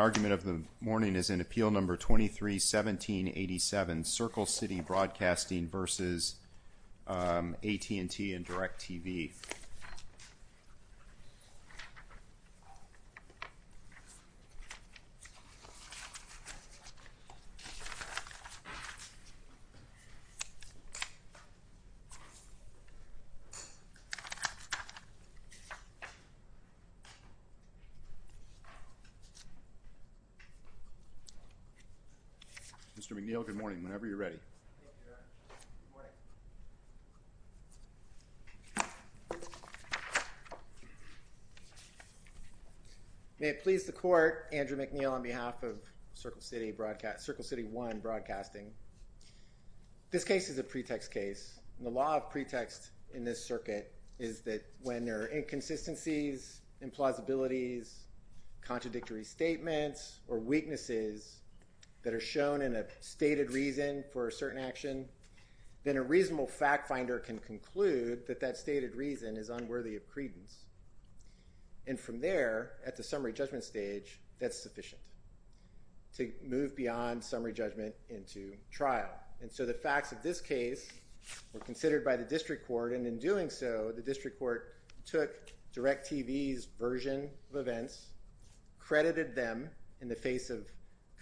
Argument of the morning is in Appeal No. 23-1787, Circle City Broadcasting v. AT&T and DirecTV. Mr. McNeil, good morning, whenever you're ready. May it please the court, Andrew McNeil on behalf of Circle City Broadcasting, Circle City 1 Broadcasting. This case is a pretext case and the law of pretext in this circuit is that when there are inconsistencies, implausibilities, contradictory statements or weaknesses that are shown in a stated reason for a certain action, then a reasonable fact finder can conclude that that stated reason is unworthy of credence. And from there, at the summary judgment stage, that's sufficient to move beyond summary judgment into trial. And so the facts of this case were considered by the district court, and in doing so, the district court took DirecTV's version of events, credited them in the face of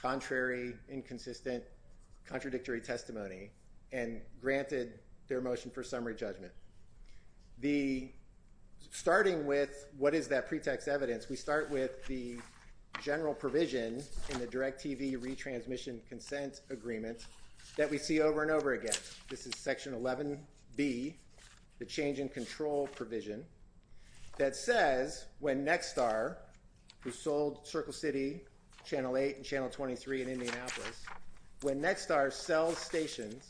contrary, inconsistent, contradictory testimony, and granted their motion for summary judgment. Starting with what is that pretext evidence, we start with the general provision in the DirecTV retransmission consent agreement that we see over and over again. This is Section 11B, the change in control provision, that says when Nexstar, who sold Circle City, Channel 8 and Channel 23 in Indianapolis, when Nexstar sells stations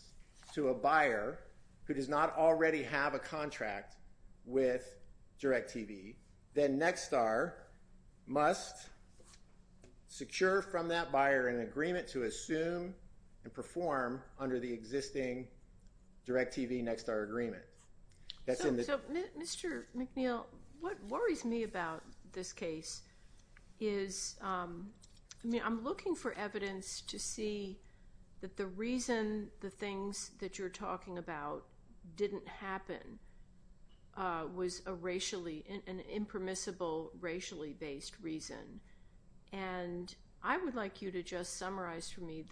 to a buyer who does not already have a contract with DirecTV, then Nexstar must secure from that buyer an agreement to assume and perform under the existing DirecTV-Nexstar agreement. So, Mr. McNeil, what worries me about this case is, I mean, I'm looking for evidence to see that the reason the things that you're talking about didn't happen was a racially, an impermissible racially-based reason. And I would like you to just summarize for me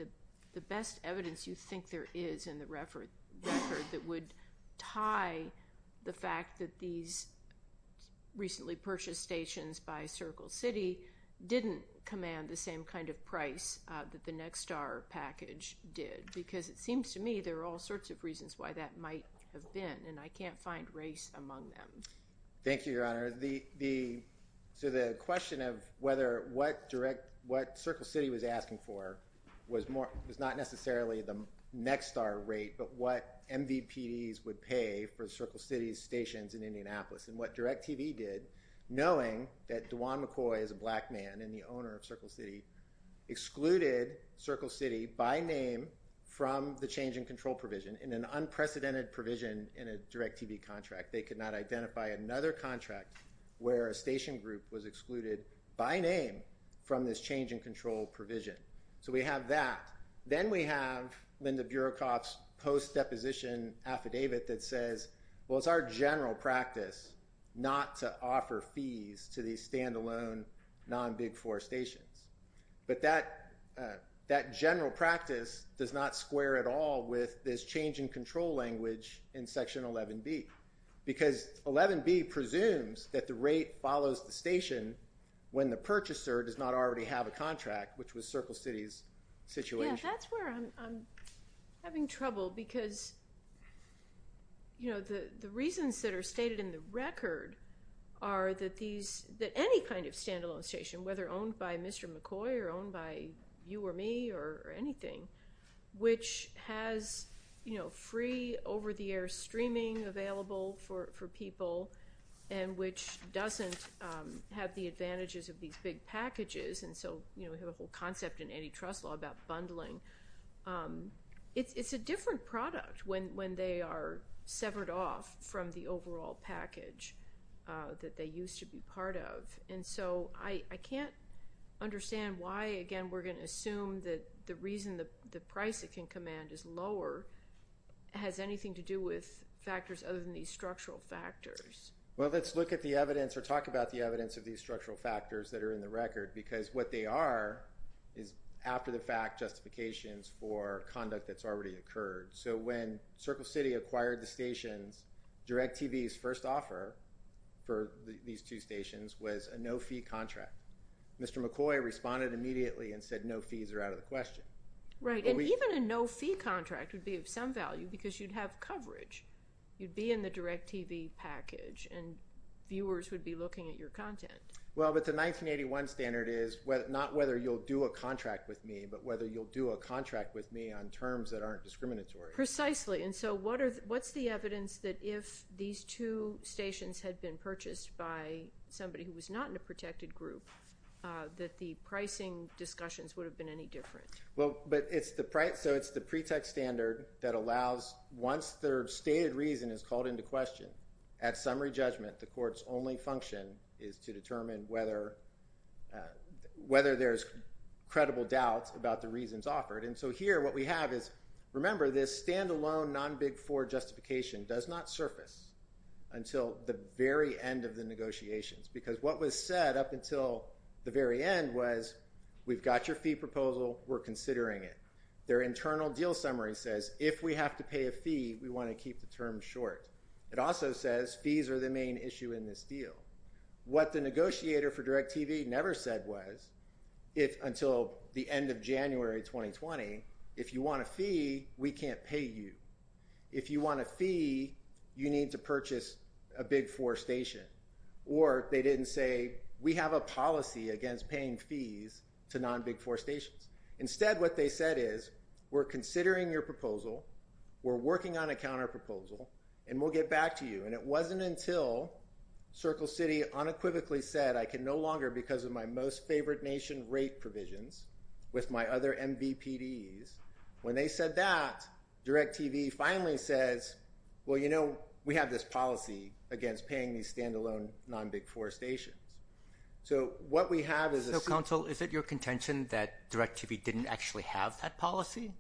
the best evidence you think there is in the record that would tie the fact that these recently purchased stations by Circle City didn't command the same kind of price that the Nexstar package did. Because it seems to me there are all sorts of reasons why that might have been, and I can't find race among them. Thank you, Your Honor. So the question of whether what Circle City was asking for was not necessarily the Nexstar rate, but what MVPDs would pay for Circle City's stations in Indianapolis. And what DirecTV did, knowing that DeJuan McCoy is a black man and the owner of Circle City, excluded Circle City by name from the change in control provision in an unprecedented provision in a DirecTV contract. They could not identify another contract where a station group was excluded by name from this change in control provision. So we have that. Then we have Linda Burakoff's post-deposition affidavit that says, well, it's our general practice not to offer fees to these standalone non-Big Four stations. But that general practice does not square at all with this change in control language in Section 11B. Because 11B presumes that the rate follows the station when the purchaser does not already have a contract, which was Circle City's situation. That's where I'm having trouble, because the reasons that are stated in the record are that any kind of standalone station, whether owned by Mr. McCoy or owned by you or me or anything, which has free over-the-air streaming available for people and which doesn't have the advantages of these big packages. And so we have a whole concept in antitrust law about bundling. It's a different product when they are severed off from the overall package that they used to be part of. And so I can't understand why, again, we're going to assume that the reason the price it can command is lower has anything to do with factors other than these structural factors. Well, let's look at the evidence or talk about the evidence of these structural factors that are in the record. Because what they are is after-the-fact justifications for conduct that's already occurred. So when Circle City acquired the stations, DirecTV's first offer for these two stations was a no-fee contract. Mr. McCoy responded immediately and said no fees are out of the question. Right, and even a no-fee contract would be of some value because you'd have coverage. You'd be in the DirecTV package and viewers would be looking at your content. Well, but the 1981 standard is not whether you'll do a contract with me, but whether you'll do a contract with me on terms that aren't discriminatory. Precisely. And so what's the evidence that if these two stations had been purchased by somebody who was not in a protected group that the pricing discussions would have been any different? Well, but it's the pretext standard that allows once their stated reason is called into question, at summary judgment, the court's only function is to determine whether there's credible doubt about the reasons offered. And so here what we have is, remember, this standalone non-Big Four justification does not surface until the very end of the negotiations. Because what was said up until the very end was we've got your fee proposal, we're considering it. Their internal deal summary says if we have to pay a fee, we want to keep the term short. It also says fees are the main issue in this deal. What the negotiator for DirecTV never said was, until the end of January 2020, if you want a fee, we can't pay you. If you want a fee, you need to purchase a Big Four station. Or they didn't say, we have a policy against paying fees to non-Big Four stations. Instead, what they said is, we're considering your proposal, we're working on a counterproposal, and we'll get back to you. And it wasn't until Circle City unequivocally said, I can no longer because of my most favored nation rate provisions with my other MVPDs. When they said that, DirecTV finally says, well, you know, we have this policy against paying these standalone non-Big Four stations. So what we have is a— So, counsel, is it your contention that DirecTV didn't actually have that policy?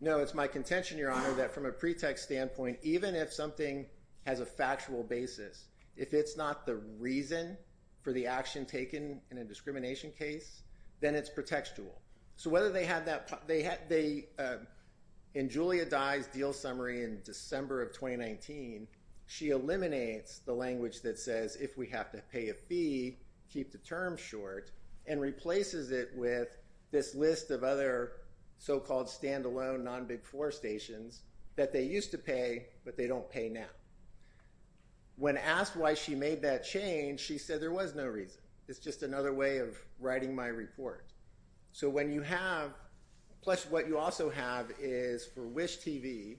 No, it's my contention, Your Honor, that from a pretext standpoint, even if something has a factual basis, if it's not the reason for the action taken in a discrimination case, then it's pretextual. So whether they had that—in Julia Dye's deal summary in December of 2019, she eliminates the language that says, if we have to pay a fee, keep the term short, and replaces it with this list of other so-called standalone non-Big Four stations that they used to pay, but they don't pay now. When asked why she made that change, she said, there was no reason. It's just another way of writing my report. So when you have—plus what you also have is for Wish TV,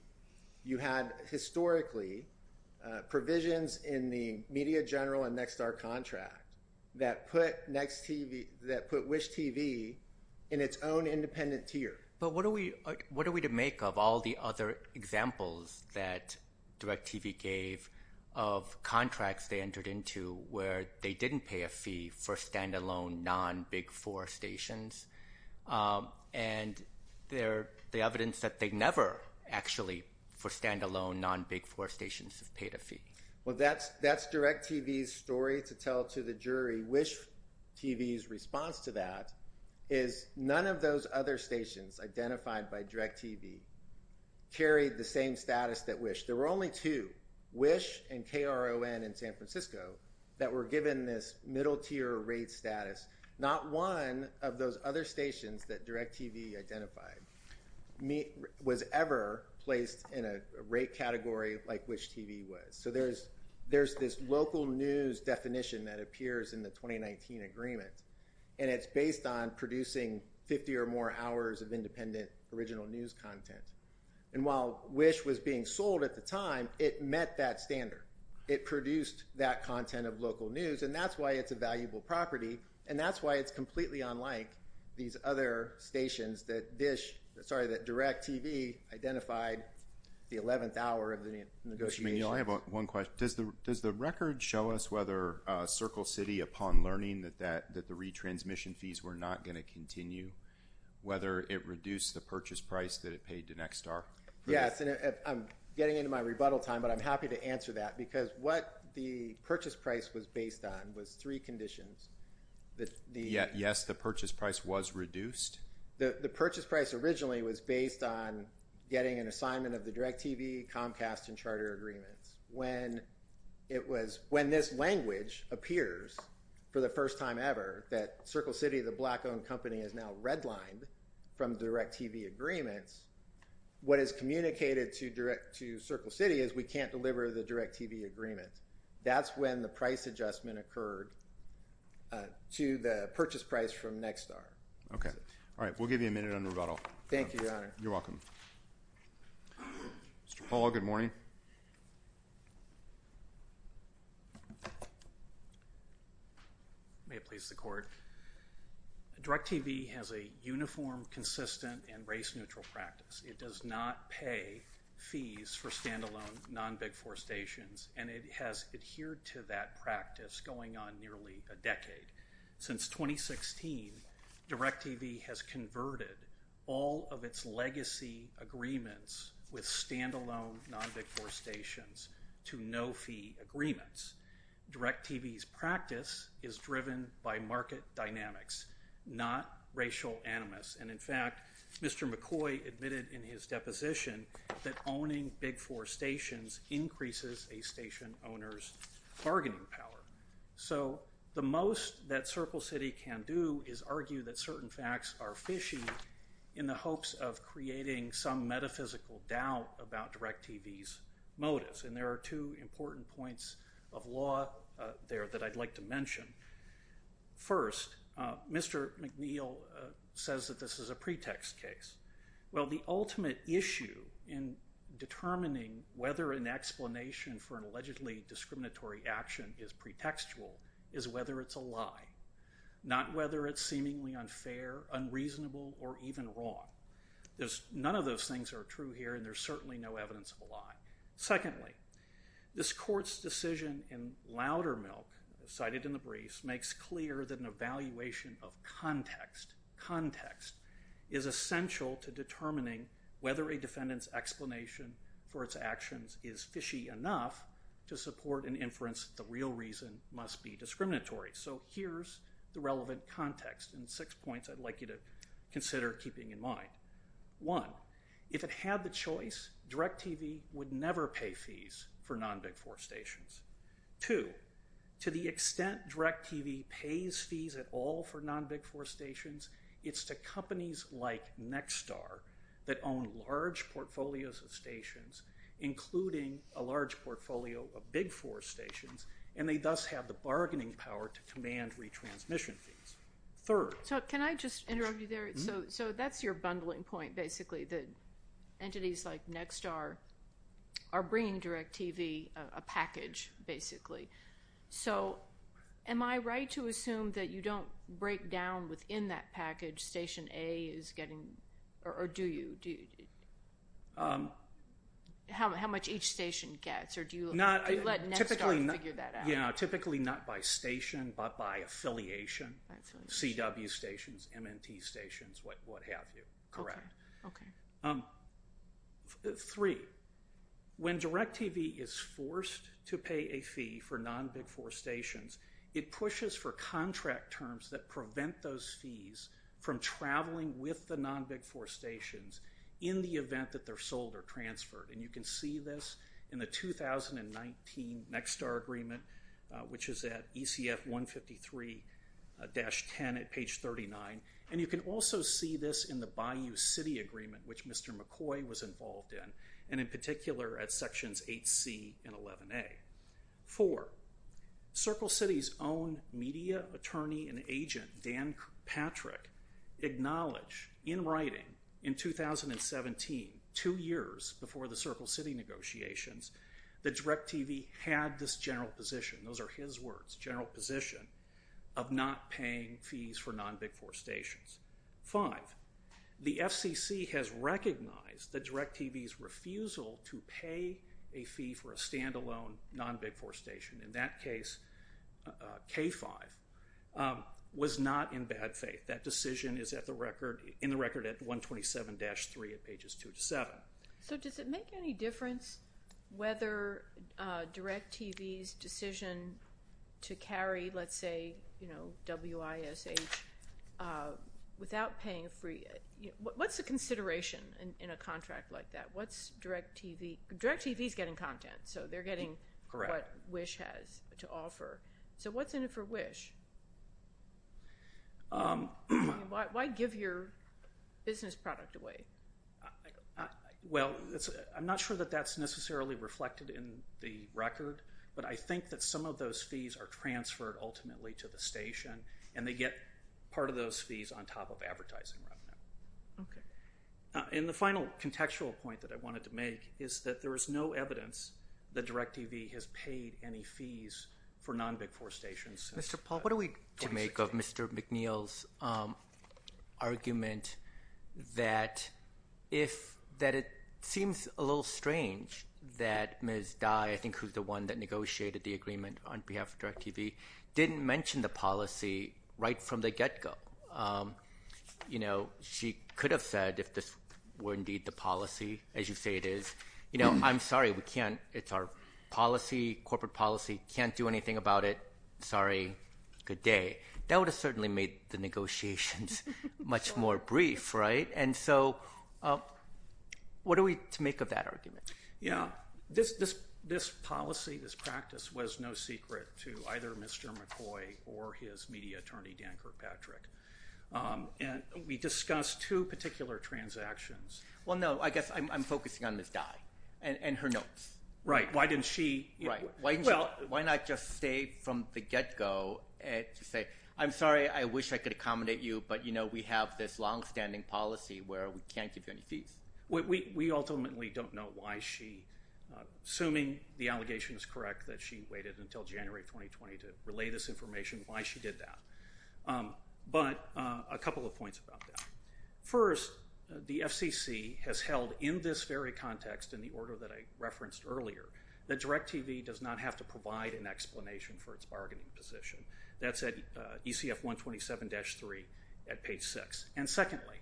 you had historically provisions in the Media General and NextStar contract that put Wish TV in its own independent tier. But what are we to make of all the other examples that DirecTV gave of contracts they entered into where they didn't pay a fee for standalone non-Big Four stations, and the evidence that they never actually, for standalone non-Big Four stations, have paid a fee? Well, that's DirecTV's story to tell to the jury. Wish TV's response to that is none of those other stations identified by DirecTV carried the same status that Wish. There were only two, Wish and KRON in San Francisco, that were given this middle-tier rate status. Not one of those other stations that DirecTV identified was ever placed in a rate category like Wish TV was. So there's this local news definition that appears in the 2019 agreement, and it's based on producing 50 or more hours of independent original news content. And while Wish was being sold at the time, it met that standard. It produced that content of local news, and that's why it's a valuable property, and that's why it's completely unlike these other stations that DirecTV identified the 11th hour of the negotiation. I have one question. Does the record show us whether Circle City, upon learning that the retransmission fees were not going to continue, whether it reduced the purchase price that it paid to Nextstar? Yes, and I'm getting into my rebuttal time, but I'm happy to answer that, because what the purchase price was based on was three conditions. Yes, the purchase price was reduced. The purchase price originally was based on getting an assignment of the DirecTV, Comcast, and Charter agreements. When this language appears for the first time ever, that Circle City, the black-owned company, is now redlined from DirecTV agreements, what is communicated to Circle City is we can't deliver the DirecTV agreement. That's when the price adjustment occurred to the purchase price from Nextstar. Okay. All right. We'll give you a minute on rebuttal. Thank you, Your Honor. You're welcome. Mr. Paul, good morning. May it please the Court. DirecTV has a uniform, consistent, and race-neutral practice. It does not pay fees for standalone, non-Big Four stations, and it has adhered to that practice going on nearly a decade. Since 2016, DirecTV has converted all of its legacy agreements with standalone, non-Big Four stations to no-fee agreements. DirecTV's practice is driven by market dynamics, not racial animus. And, in fact, Mr. McCoy admitted in his deposition that owning Big Four stations increases a station owner's bargaining power. So the most that Circle City can do is argue that certain facts are fishy in the hopes of creating some metaphysical doubt about DirecTV's motives. And there are two important points of law there that I'd like to mention. First, Mr. McNeil says that this is a pretext case. Well, the ultimate issue in determining whether an explanation for an allegedly discriminatory action is pretextual is whether it's a lie. Not whether it's seemingly unfair, unreasonable, or even wrong. None of those things are true here, and there's certainly no evidence of a lie. Secondly, this court's decision in Loudermilk, cited in the briefs, makes clear that an evaluation of context, context, is essential to determining whether a defendant's explanation for its actions is fishy enough to support an inference that the real reason must be discriminatory. So here's the relevant context and six points I'd like you to consider keeping in mind. One, if it had the choice, DirecTV would never pay fees for non-Big Four stations. Two, to the extent DirecTV pays fees at all for non-Big Four stations, it's to companies like Nexstar that own large portfolios of stations, including a large portfolio of Big Four stations, and they thus have the bargaining power to command retransmission fees. Third. So can I just interrupt you there? So that's your bundling point, basically, that entities like Nexstar are bringing DirecTV a package, basically. So am I right to assume that you don't break down within that package station A is getting, or do you? How much each station gets, or do you let Nexstar figure that out? Yeah, typically not by station, but by affiliation. CW stations, MNT stations, what have you. Correct. Okay. Three. When DirecTV is forced to pay a fee for non-Big Four stations, it pushes for contract terms that prevent those fees from traveling with the non-Big Four stations in the event that they're sold or transferred. And you can see this in the 2019 Nexstar Agreement, which is at ECF 153-10 at page 39. And you can also see this in the Bayou City Agreement, which Mr. McCoy was involved in, and in particular at sections 8C and 11A. Four. Circle City's own media attorney and agent, Dan Patrick, acknowledged in writing in 2017, two years before the Circle City negotiations, that DirecTV had this general position. Those are his words, general position of not paying fees for non-Big Four stations. Five. The FCC has recognized that DirecTV's refusal to pay a fee for a standalone non-Big Four station, in that case K5, was not in bad faith. That decision is in the record at 127-3 at pages 2 to 7. So does it make any difference whether DirecTV's decision to carry, let's say, WISH, without paying a fee, what's the consideration in a contract like that? What's DirecTV, DirecTV's getting content, so they're getting what WISH has to offer. So what's in it for WISH? Why give your business product away? Well, I'm not sure that that's necessarily reflected in the record, but I think that some of those fees are transferred ultimately to the station, and they get part of those fees on top of advertising revenue. Okay. And the final contextual point that I wanted to make is that there is no evidence that DirecTV has paid any fees for non-Big Four stations. Mr. Paul, what are we going to say? To make of Mr. McNeil's argument that it seems a little strange that Ms. Dye, I think who's the one that negotiated the agreement on behalf of DirecTV, didn't mention the policy right from the get-go. She could have said if this were indeed the policy, as you say it is, I'm sorry, it's our policy, corporate policy, can't do anything about it, sorry, good day. That would have certainly made the negotiations much more brief, right? And so what are we to make of that argument? Yeah. This policy, this practice was no secret to either Mr. McCoy or his media attorney Dan Kirkpatrick, and we discussed two particular transactions. Well, no, I guess I'm focusing on Ms. Dye and her notes. Right. Why didn't she? Right. Why not just stay from the get-go and say, I'm sorry, I wish I could accommodate you, but we have this long-standing policy where we can't give you any fees. We ultimately don't know why she, assuming the allegation is correct that she waited until January 2020 to relay this information, why she did that. But a couple of points about that. First, the FCC has held in this very context, in the order that I referenced earlier, that DirecTV does not have to provide an explanation for its bargaining position. That's at ECF 127-3 at page 6. And secondly,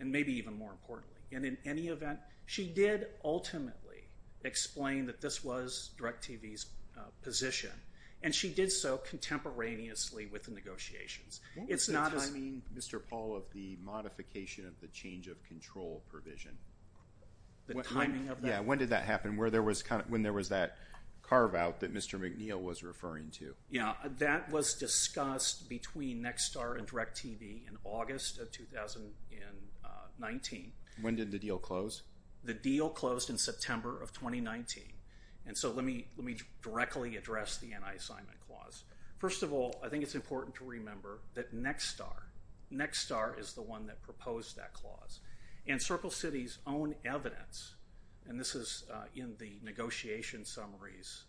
and maybe even more importantly, and in any event, she did ultimately explain that this was DirecTV's position, and she did so contemporaneously with the negotiations. What was the timing, Mr. Paul, of the modification of the change of control provision? The timing of that? Yeah, when did that happen? When there was that carve-out that Mr. McNeil was referring to. Yeah, that was discussed between Nexstar and DirecTV in August of 2019. When did the deal close? The deal closed in September of 2019. And so let me directly address the anti-assignment clause. First of all, I think it's important to remember that Nexstar, Nexstar is the one that proposed that clause. And Circle City's own evidence, and this is in the negotiation summaries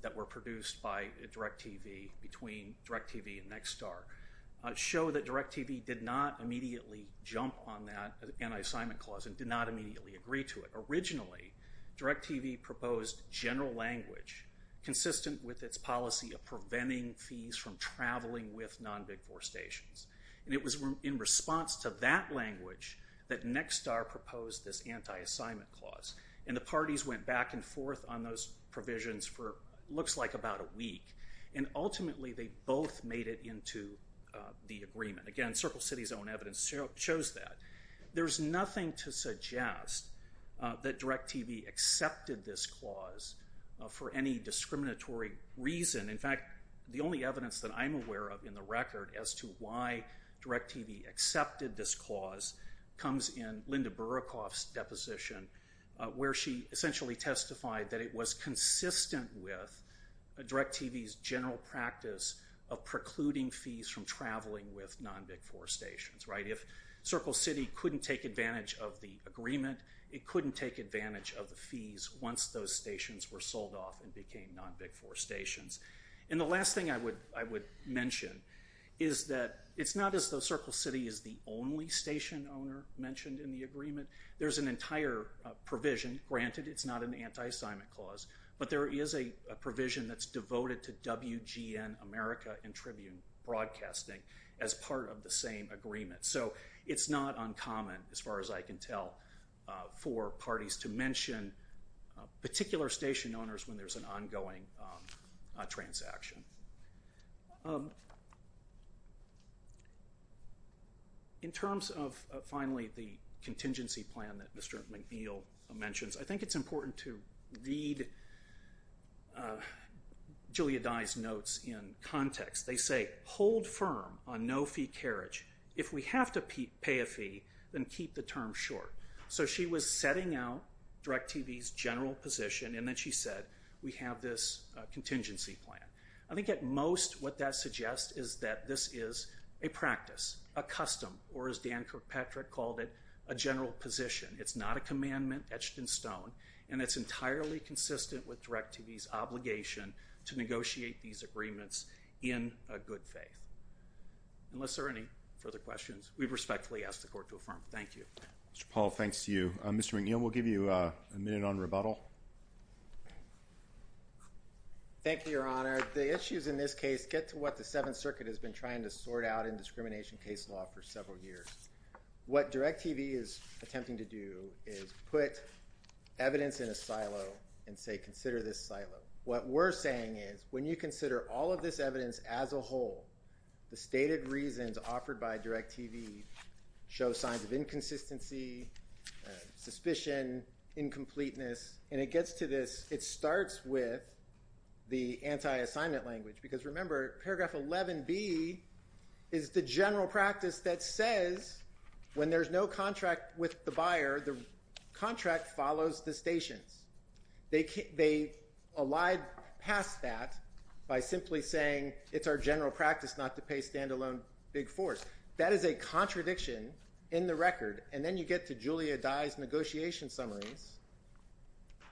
that were produced by DirecTV between DirecTV and Nexstar, show that DirecTV did not immediately jump on that anti-assignment clause and did not immediately agree to it. Originally, DirecTV proposed general language consistent with its policy of preventing fees from traveling with non-Big Four stations. And it was in response to that language that Nexstar proposed this anti-assignment clause. And the parties went back and forth on those provisions for what looks like about a week. And ultimately, they both made it into the agreement. Again, Circle City's own evidence shows that. There's nothing to suggest that DirecTV accepted this clause for any discriminatory reason. In fact, the only evidence that I'm aware of in the record as to why DirecTV accepted this clause comes in Linda Burakov's deposition, where she essentially testified that it was consistent with DirecTV's general practice of precluding fees from traveling with non-Big Four stations. If Circle City couldn't take advantage of the agreement, it couldn't take advantage of the fees once those stations were sold off and became non-Big Four stations. And the last thing I would mention is that it's not as though Circle City is the only station owner mentioned in the agreement. There's an entire provision. Granted, it's not an anti-assignment clause. But there is a provision that's devoted to WGN America and Tribune Broadcasting as part of the same agreement. So it's not uncommon, as far as I can tell, for parties to mention particular station owners when there's an ongoing transaction. In terms of, finally, the contingency plan that Mr. McNeill mentions, I think it's important to read Julia Dye's notes in context. They say, hold firm on no-fee carriage. If we have to pay a fee, then keep the term short. So she was setting out DirecTV's general position, and then she said, we have this contingency plan. I think at most what that suggests is that this is a practice, a custom, or as Dan Kirkpatrick called it, a general position. It's not a commandment etched in stone, and it's entirely consistent with DirecTV's obligation to negotiate these agreements in a good faith. Unless there are any further questions, we respectfully ask the Court to affirm. Thank you. Mr. Paul, thanks to you. Mr. McNeill, we'll give you a minute on rebuttal. Thank you, Your Honor. The issues in this case get to what the Seventh Circuit has been trying to sort out in discrimination case law for several years. What DirecTV is attempting to do is put evidence in a silo and say, consider this silo. What we're saying is when you consider all of this evidence as a whole, the stated reasons offered by DirecTV show signs of inconsistency, suspicion, incompleteness. And it gets to this, it starts with the anti-assignment language. Because remember, paragraph 11B is the general practice that says when there's no contract with the buyer, the contract follows the stations. They allied past that by simply saying it's our general practice not to pay standalone big fours. That is a contradiction in the record. And then you get to Julia Dye's negotiation summaries,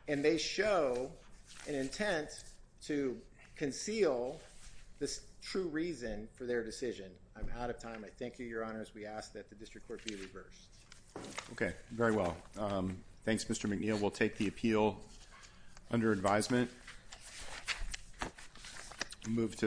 and they show an intent to conceal the true reason for their decision. I'm out of time. I thank you, Your Honor, as we ask that the District Court be reversed. Okay, very well. Thanks, Mr. McNeil. We'll take the appeal under advisement. Move to